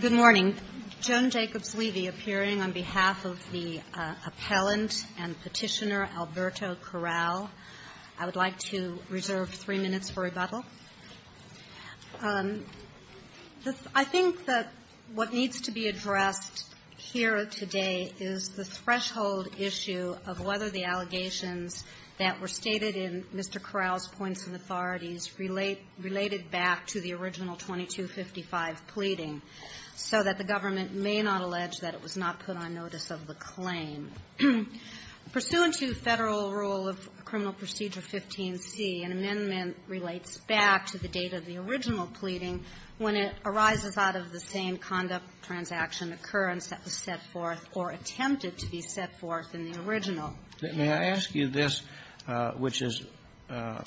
Good morning. Joan Jacobs-Levy, appearing on behalf of the appellant and petitioner Alberto Corral. I would like to reserve three minutes for rebuttal. I think that what needs to be addressed here today is the threshold issue of whether the original 2255 pleading, so that the government may not allege that it was not put on notice of the claim. Pursuant to Federal Rule of Criminal Procedure 15C, an amendment relates back to the date of the original pleading when it arises out of the same conduct, transaction, occurrence that was set forth or attempted to be set forth in the original. May I ask you this, which is a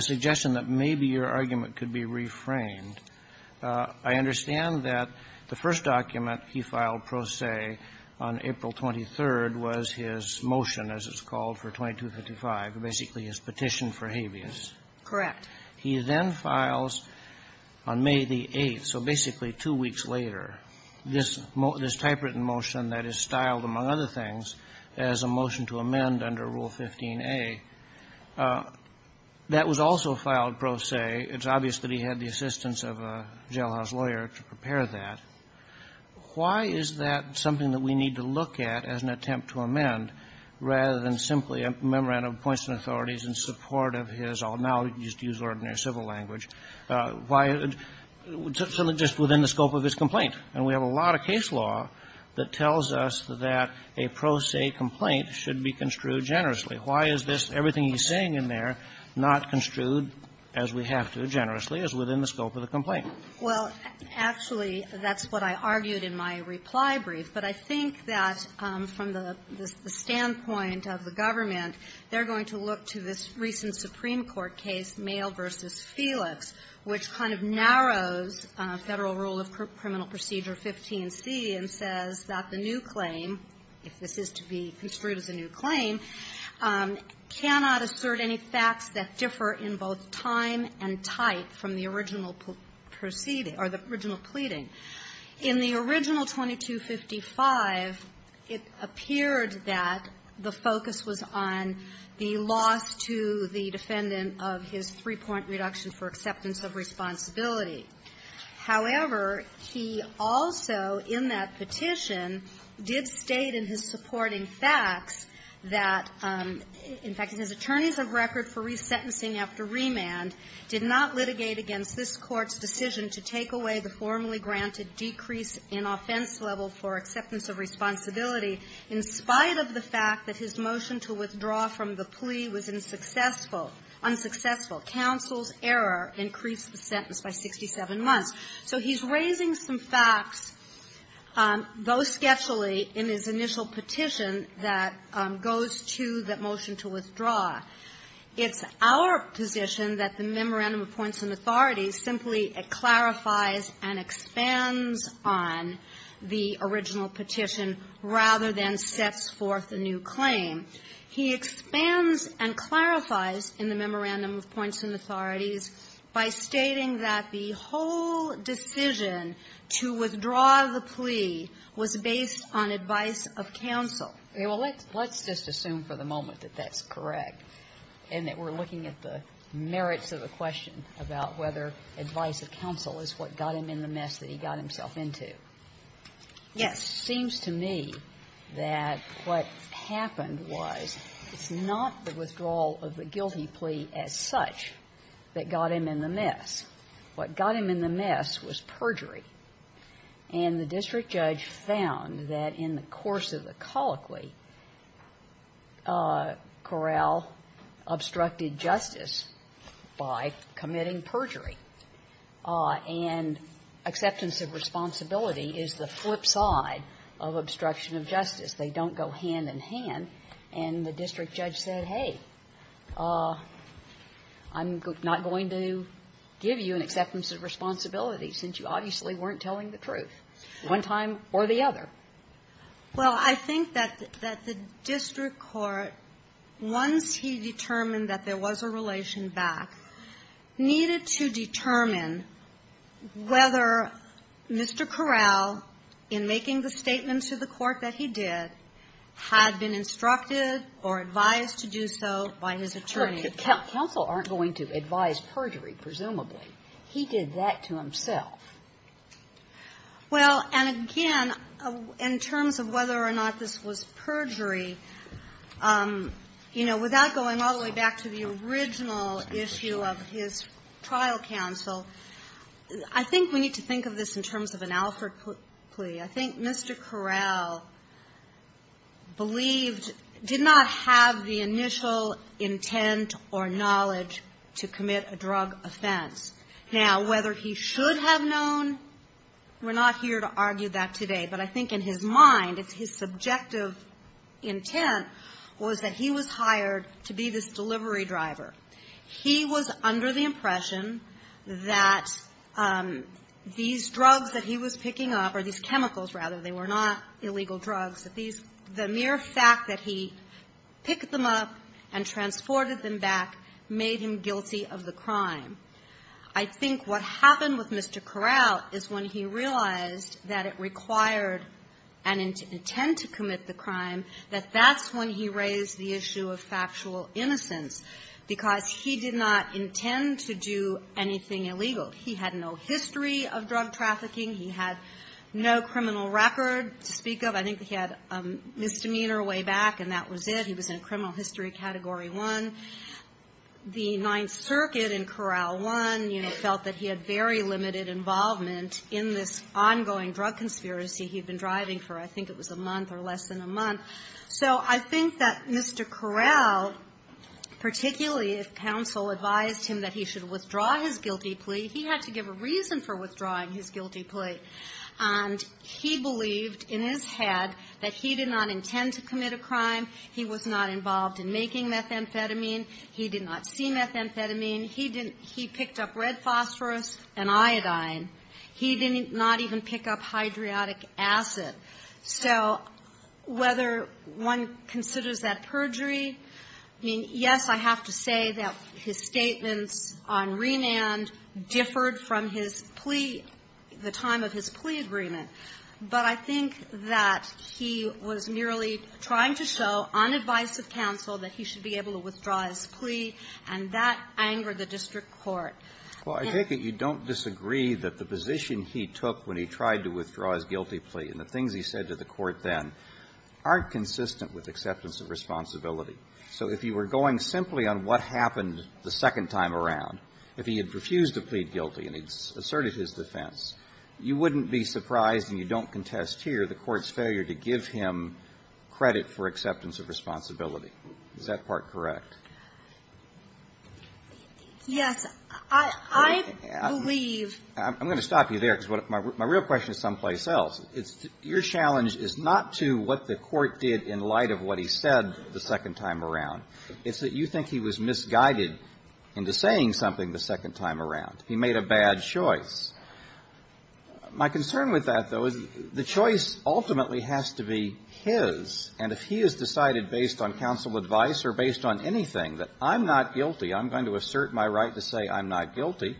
suggestion that maybe your argument could be reframed. I understand that the first document he filed pro se on April 23rd was his motion, as it's called, for 2255, basically his petition for habeas. Correct. He then files on May the 8th, so basically two weeks later, this typewritten motion that is styled, among other things, as a motion to amend under Rule 15A. That was also filed pro se. It's obvious that he had the assistance of a jailhouse lawyer to prepare that. Why is that something that we need to look at as an attempt to amend, rather than simply a memorandum of points and authorities in support of his own? Now, you can just use ordinary civil language. Why? Just within the scope of his complaint. And we have a lot of case law that tells us that a pro se complaint should be construed generously. Why is this, everything he's saying in there, not construed, as we have to, generously, as within the scope of the complaint? Well, actually, that's what I argued in my reply brief. But I think that from the standpoint of the government, they're going to look to this recent Supreme Court case, Maile v. Felix, which kind of narrows Federal rule of criminal procedure 15C and says that the new claim, if this is to be construed as a new claim, cannot assert any facts that differ in both time and type from the original proceeding or the original pleading. In the original 2255, it appeared that the focus was on the loss to the defendant of his three-point reduction for acceptance of responsibility. However, he also, in that petition, did state in his supporting facts that, in fact, his attorneys of record for resentencing after remand did not litigate against this Court's decision to take away the formally granted decrease in offense level for acceptance of responsibility in spite of the fact that his motion to withdraw from the plea was unsuccessful, unsuccessful. Counsel's error increased the sentence by 67 months. So he's raising some facts, though sketchily, in his initial petition that goes to the motion to withdraw. It's our position that the memorandum of points and authorities simply clarifies and expands on the original petition rather than sets forth a new claim. He expands and clarifies in the memorandum of points and authorities by stating that the whole decision to withdraw the plea was based on advice of counsel. Well, let's just assume for the moment that that's correct and that we're looking at the merits of the question about whether advice of counsel is what got him in the mess that he got himself into. Yes. It seems to me that what happened was it's not the withdrawal of the guilty plea as such that got him in the mess. What got him in the mess was perjury. And the district judge found that in the course of the colloquy, Corral obstructed justice by committing perjury. And acceptance of responsibility is the flip side of obstruction of justice. They don't go hand in hand. And the district judge said, hey, I'm not going to give you an acceptance of responsibility since you obviously weren't telling the truth one time or the other. Well, I think that the district court, once he determined that there was a relation between the two, and the district court came back, needed to determine whether Mr. Corral, in making the statement to the court that he did, had been instructed or advised to do so by his attorney. Counsel aren't going to advise perjury, presumably. He did that to himself. Well, and again, in terms of whether or not this was perjury, you know, without going all the way back to the original issue of his trial counsel, I think we need to think of this in terms of an Alford plea. I think Mr. Corral believed — did not have the initial intent or knowledge to commit a drug offense. Now, whether he should have known, we're not here to argue that today. But I think in his mind, if his subjective intent was that he was hired to be this delivery driver, he was under the impression that these drugs that he was picking up, or these chemicals, rather, they were not illegal drugs, that these — the mere fact that he picked them up and transported them back made him guilty of the crime. I think what happened with Mr. Corral is when he realized that it required an intent to commit the crime, that that's when he raised the issue of factual innocence, because he did not intend to do anything illegal. He had no history of drug trafficking. He had no criminal record to speak of. I think he had a misdemeanor way back, and that was it. He was in criminal history category one. The Ninth Circuit in Corral 1, you know, felt that he had very limited involvement in this ongoing drug conspiracy he'd been driving for, I think it was a month or less than a month. So I think that Mr. Corral, particularly if counsel advised him that he should withdraw his guilty plea, he had to give a reason for withdrawing his guilty plea. And he believed in his head that he did not intend to commit a crime. He was not involved in making methamphetamine. He did not see methamphetamine. He didn't he picked up red phosphorus and iodine. He did not even pick up hydroiodic acid. So whether one considers that perjury, I mean, yes, I have to say that his statements on remand differed from his plea, the time of his plea agreement. But I think that he was merely trying to show, on advice of counsel, that he should be able to withdraw his plea, and that angered the district court. Well, I take it you don't disagree that the position he took when he tried to withdraw his guilty plea and the things he said to the court then aren't consistent with acceptance of responsibility. So if you were going simply on what happened the second time around, if he had refused to plead guilty and he asserted his defense, you wouldn't be surprised, and you don't contest here, the court's failure to give him credit for acceptance of responsibility. Is that part correct? Yes. I believe ---- I'm going to stop you there, because my real question is someplace else. It's your challenge is not to what the court did in light of what he said the second time around. It's that you think he was misguided into saying something the second time around. He made a bad choice. My concern with that, though, is the choice ultimately has to be his. And if he has decided based on counsel advice or based on anything that I'm not guilty, I'm going to assert my right to say I'm not guilty,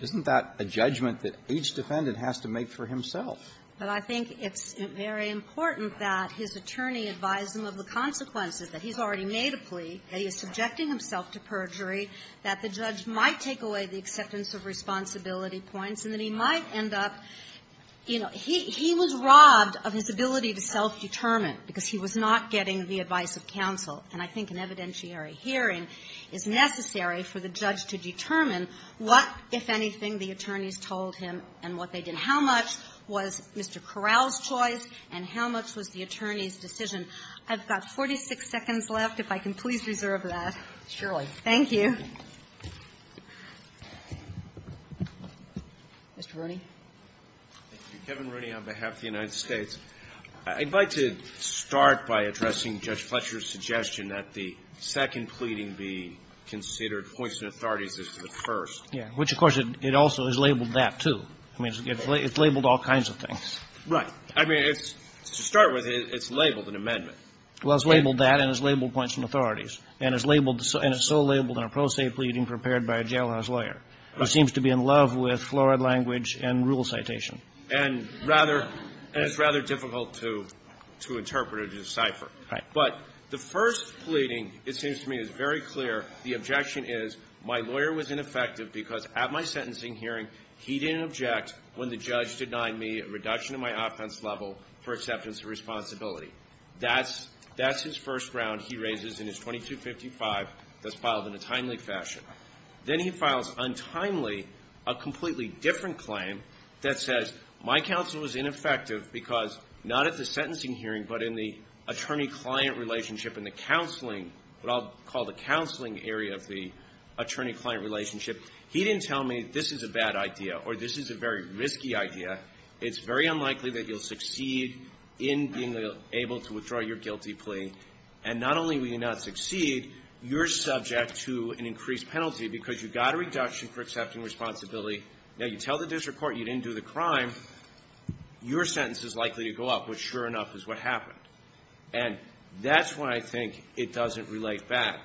isn't that a judgment that each defendant has to make for himself? But I think it's very important that his attorney advise him of the consequences that he's already made a plea, that he is subjecting himself to perjury, that the judge might take away the acceptance of responsibility points, and that he might end up, you know, he was robbed of his ability to self-determine because he was not getting the advice of counsel. And I think an evidentiary hearing is necessary for the judge to determine what, if anything, the attorneys told him and what they did. How much was Mr. Corral's choice, and how much was the attorney's decision? I've got 46 seconds left. If I can please reserve that. Sotomayor, surely. Thank you. Mr. Rooney. Kevin Rooney on behalf of the United States. I'd like to start by addressing Judge Fletcher's suggestion that the second pleading be considered hoisting authorities as to the first. Yeah. Which, of course, it also is labeled that, too. I mean, it's labeled all kinds of things. Right. I mean, it's to start with, it's labeled an amendment. Well, it's labeled that, and it's labeled hoisting authorities. And it's labeled, and it's so labeled in a pro se pleading prepared by a jailhouse lawyer, who seems to be in love with florid language and rule citation. And rather, and it's rather difficult to interpret or decipher. Right. But the first pleading, it seems to me, is very clear. The objection is, my lawyer was ineffective because at my sentencing hearing, he didn't object when the judge denied me a reduction in my offense level for acceptance of responsibility. That's his first round he raises in his 2255 that's filed in a timely fashion. Then he files, untimely, a completely different claim that says, my counsel was ineffective because, not at the sentencing hearing, but in the attorney-client relationship in the counseling, what I'll call the counseling area of the attorney-client relationship. He didn't tell me, this is a bad idea, or this is a very risky idea. It's very unlikely that you'll succeed in being able to withdraw your guilty plea. And not only will you not succeed, you're subject to an increased penalty, because you got a reduction for accepting responsibility. Now, you tell the district court you didn't do the crime. Your sentence is likely to go up, which sure enough is what happened. And that's why I think it doesn't relate back.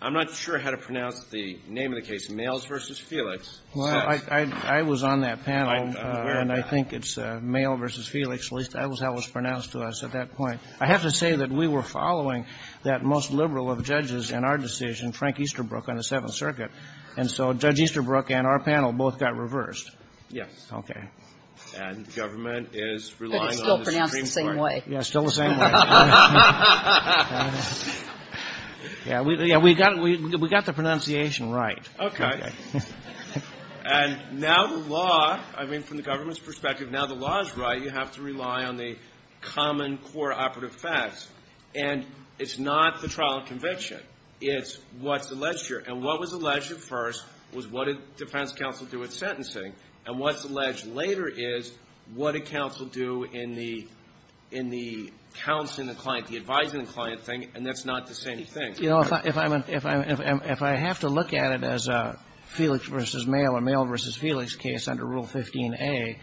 I'm not sure how to pronounce the name of the case, Males v. Felix. Well, I was on that panel, and I think it's Males v. Felix, at least that was how it was pronounced to us at that point. I have to say that we were following that most liberal of judges in our decision, Frank Easterbrook, on the Seventh Circuit. And so Judge Easterbrook and our panel both got reversed. Okay. And the government is relying on the Supreme Court. But it's still pronounced the same way. Yeah, still the same way. Yeah, we got the pronunciation right. Okay. And now the law, I mean, from the government's perspective, now the law is right. You have to rely on the common core operative facts. And it's not the trial and conviction. It's what's alleged here. And what was alleged at first was what did defense counsel do with sentencing. And what's alleged later is what did counsel do in the counseling the client, the advising the client thing, and that's not the same thing. You know, if I have to look at it as a Felix v. Male or Male v. Felix case under Rule 15a,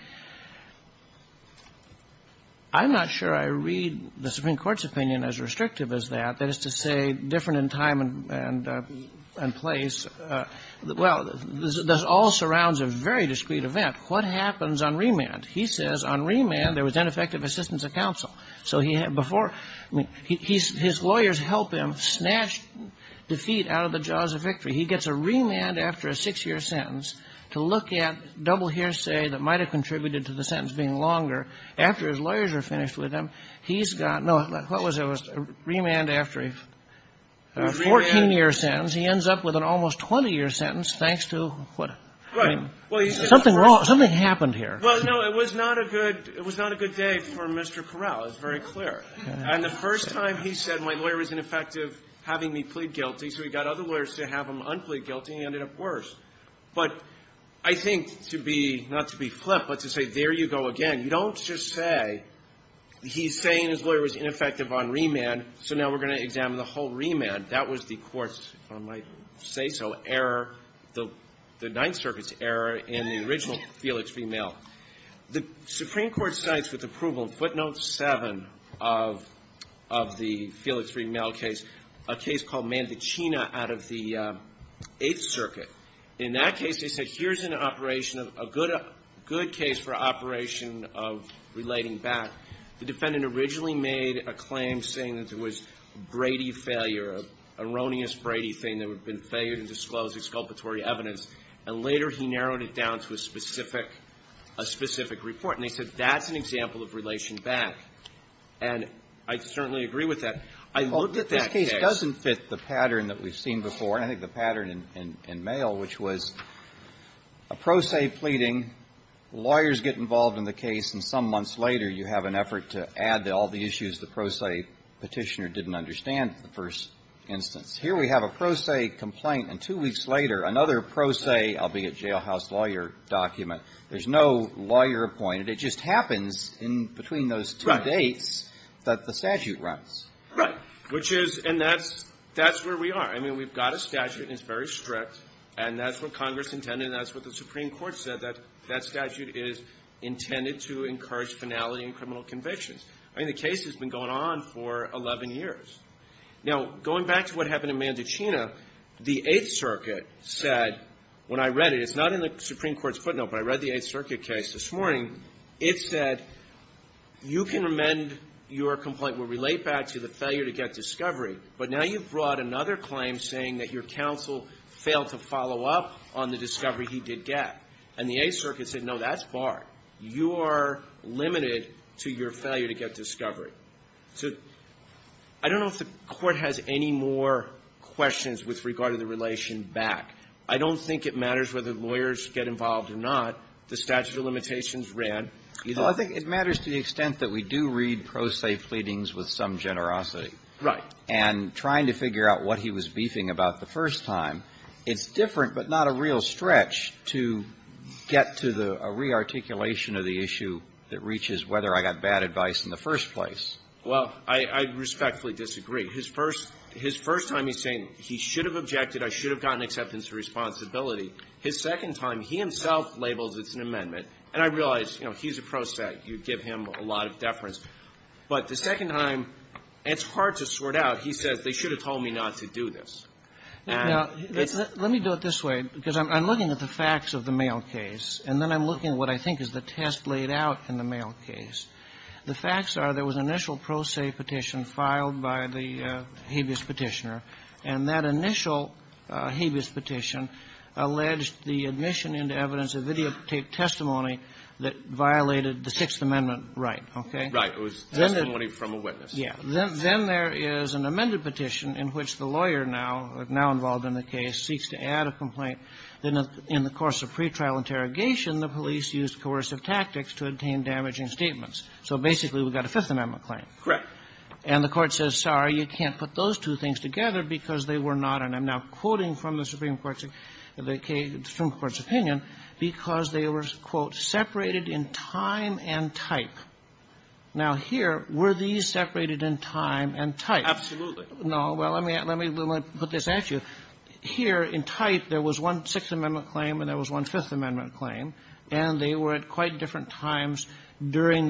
I'm not sure I read the Supreme Court's opinion as restrictive as that, that is to say different in time and place. Well, this all surrounds a very discrete event. What happens on remand? He says on remand there was ineffective assistance of counsel. So he had before, I mean, his lawyers help him snatch defeat out of the jaws of victory. He gets a remand after a six-year sentence to look at double hearsay that might have contributed to the sentence being longer. After his lawyers are finished with him, he's got, no, what was it, a remand after a 14-year sentence. He ends up with an almost 20-year sentence, thanks to what, I mean, something wrong, something happened here. Well, no, it was not a good day for Mr. Corral, it's very clear. And the first time he said my lawyer was ineffective having me plead guilty, so he got other lawyers to have him unplead guilty, and he ended up worse. But I think to be, not to be flip, but to say there you go again, you don't just say he's saying his lawyer was ineffective on remand, so now we're going to examine the whole remand. That was the Court's, if I might say so, error, the Ninth Circuit's error in the original Felix v. Mill. The Supreme Court cites with approval, footnote 7 of the Felix v. Mill case, a case called Mandicina out of the Eighth Circuit. In that case, they said here's an operation, a good case for operation of relating back. The defendant originally made a claim saying that there was Brady failure, an erroneous Brady thing that had been failed in disclosing exculpatory evidence, and later he narrowed it down to a specific, a specific report. And they said that's an example of relation back. And I certainly agree with that. I looked at that case and I think the pattern in Mayall, which was a pro se pleading, lawyers get involved in the case and some months later you have an effort to add all the issues the pro se Petitioner didn't understand in the first instance. Here we have a pro se complaint, and two weeks later, another pro se, albeit jailhouse lawyer, document. There's no lawyer appointed. It just happens in between those two dates that the statute runs. Right. Which is, and that's, that's where we are. I mean, we've got a statute and it's very strict, and that's what Congress intended and that's what the Supreme Court said, that that statute is intended to encourage finality in criminal convictions. I mean, the case has been going on for 11 years. Now, going back to what happened in Mandicina, the Eighth Circuit said, when I read it, it's not in the Supreme Court's footnote, but I read the Eighth Circuit case this morning. It said, you can amend your complaint. We'll relate back to the failure to get discovery. But now you've brought another claim saying that your counsel failed to follow up on the discovery he did get. And the Eighth Circuit said, no, that's barred. You are limited to your failure to get discovery. So I don't know if the Court has any more questions with regard to the relation back. I don't think it matters whether lawyers get involved or not. The statute of limitations ran. Well, I think it matters to the extent that we do read pro se pleadings with some generosity. Right. And trying to figure out what he was beefing about the first time, it's different but not a real stretch to get to the re-articulation of the issue that reaches whether I got bad advice in the first place. Well, I respectfully disagree. His first time, he's saying he should have objected. I should have gotten acceptance of responsibility. His second time, he himself labels it's an amendment. And I realize, you know, he's a pro se. You give him a lot of deference. But the second time, it's hard to sort out. He says, they should have told me not to do this. Now, let me do it this way, because I'm looking at the facts of the mail case. And then I'm looking at what I think is the test laid out in the mail case. The facts are there was an initial pro se petition filed by the habeas Petitioner. And that initial habeas petition alleged the admission into evidence of videotape testimony that violated the Sixth Amendment right. Okay? Right. It was testimony from a witness. Yeah. Then there is an amended petition in which the lawyer now, now involved in the case, seeks to add a complaint that in the course of pretrial interrogation, the police used coercive tactics to obtain damaging statements. So basically, we've got a Fifth Amendment claim. Correct. And the Court says, sorry, you can't put those two things together because they were not, and I'm now quoting from the Supreme Court's opinion, because they were, quote, separated in time and type. Now, here, were these separated in time and type? Absolutely. No. Well, let me put this at you. Here, in type, there was one Sixth Amendment claim and there was one Fifth Amendment claim, and they were at quite different times during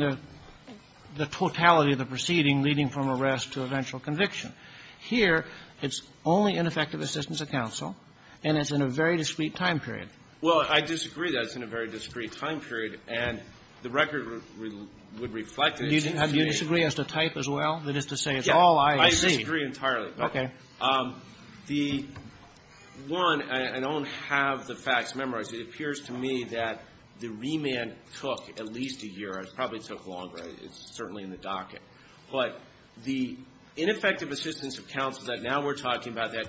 the totality of the proceeding, leading from arrest to eventual conviction. Here, it's only in effective assistance of counsel, and it's in a very discrete time period. Well, I disagree that it's in a very discrete time period. And the record would reflect that it's in a discrete time period. Do you disagree as to type as well? That is to say, it's all I have seen. Yeah. I disagree entirely. Okay. The one, I don't have the facts memorized. It appears to me that the remand took at least a year. It probably took longer. It's certainly in the docket. But the ineffective assistance of counsel that now we're talking about that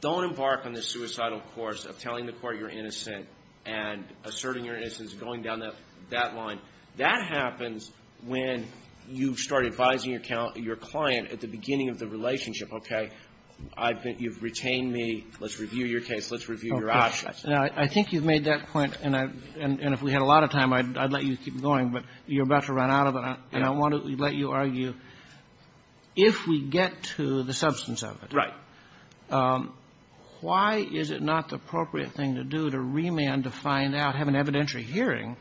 don't embark on the suicidal course of telling the Court you're innocent and asserting your innocence, going down that line, that happens when you start advising your client at the beginning of the relationship, okay? I've been – you've retained me. Let's review your case. Let's review your options. Now, I think you've made that point, and if we had a lot of time, I'd let you keep going, but you're about to run out of it. And I want to let you argue, if we get to the substance of it, why is it not the appropriate thing to do, to remand, to find out, have an evidentiary hearing,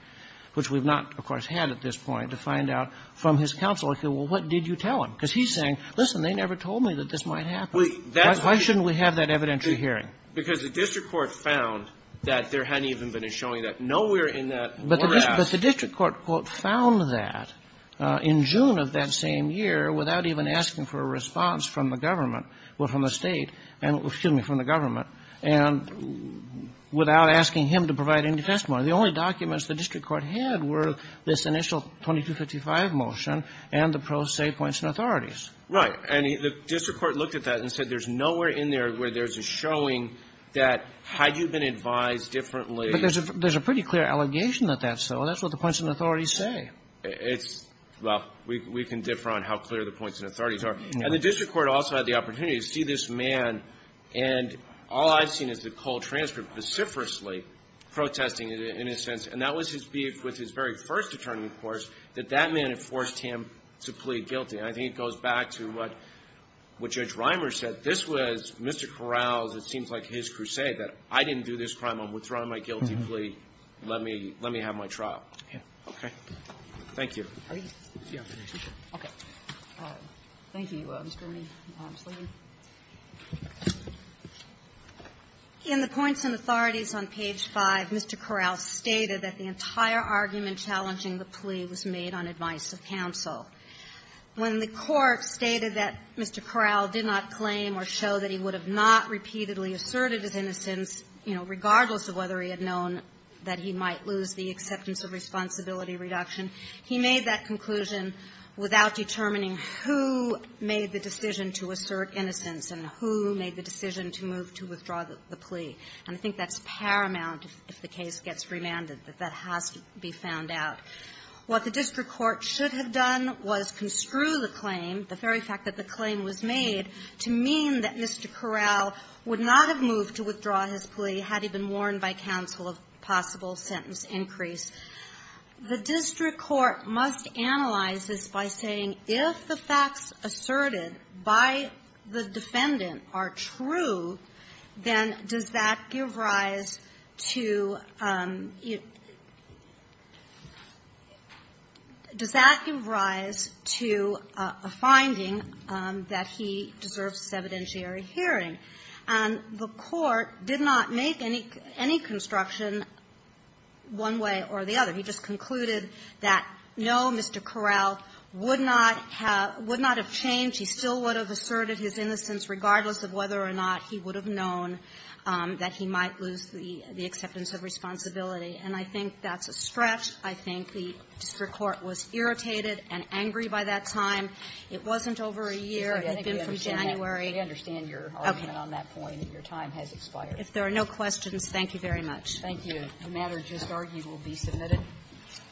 which we've not, of course, had at this point, to find out from his counsel, okay, well, what did you tell him? Because he's saying, listen, they never told me that this might happen. Why shouldn't we have that evidentiary hearing? Because the district court found that there hadn't even been a showing that. Nowhere in that – But the district court, quote, found that in June of that same year, without even asking for a response from the government, well, from the State, excuse me, from the government, and without asking him to provide any testimony. The only documents the district court had were this initial 2255 motion and the pro se points and authorities. Right. And the district court looked at that and said there's nowhere in there where there's a showing that had you been advised differently – But there's a pretty clear allegation that that's so. That's what the points and authorities say. It's – well, we can differ on how clear the points and authorities are. And the district court also had the opportunity to see this man, and all I've seen is the cold transcript, vociferously protesting it, in a sense. And that was his beef with his very first attorney, of course, that that man had forced him to plead guilty. And I think it goes back to what Judge Reimer said. This was Mr. Corral's, it seems like, his crusade, that I didn't do this crime. I'm withdrawing my guilty plea. Let me – let me have my trial. Okay. Thank you. Are you – okay. Thank you, Mr. Mead. Ms. Levy. In the points and authorities on page 5, Mr. Corral stated that the entire argument challenging the plea was made on advice of counsel. When the court stated that Mr. Corral did not claim or show that he would have not repeatedly asserted his innocence, you know, regardless of whether he had known that he might lose the acceptance of responsibility reduction, he made that conclusion without determining who made the decision to assert innocence and who made the decision to move to withdraw the plea. And I think that's paramount if the case gets remanded, that that has to be found out. What the district court should have done was construe the claim, the very fact that the claim was made, to mean that Mr. Corral would not have moved to withdraw his plea had he been warned by counsel of possible sentence increase. The district court must analyze this by saying, if the facts asserted by the defendant are true, then does that give rise to – does that give rise to a finding that he deserves this evidentiary hearing? And the court did not make any construction one way or the other. He just concluded that, no, Mr. Corral would not have changed. He still would have asserted his innocence, regardless of whether or not he would have known that he might lose the acceptance of responsibility. And I think that's a stretch. I think the district court was irritated and angry by that time. It wasn't over a year. It had been from January. I understand your argument on that point, that your time has expired. If there are no questions, thank you very much. Thank you. The matter just argued will be submitted.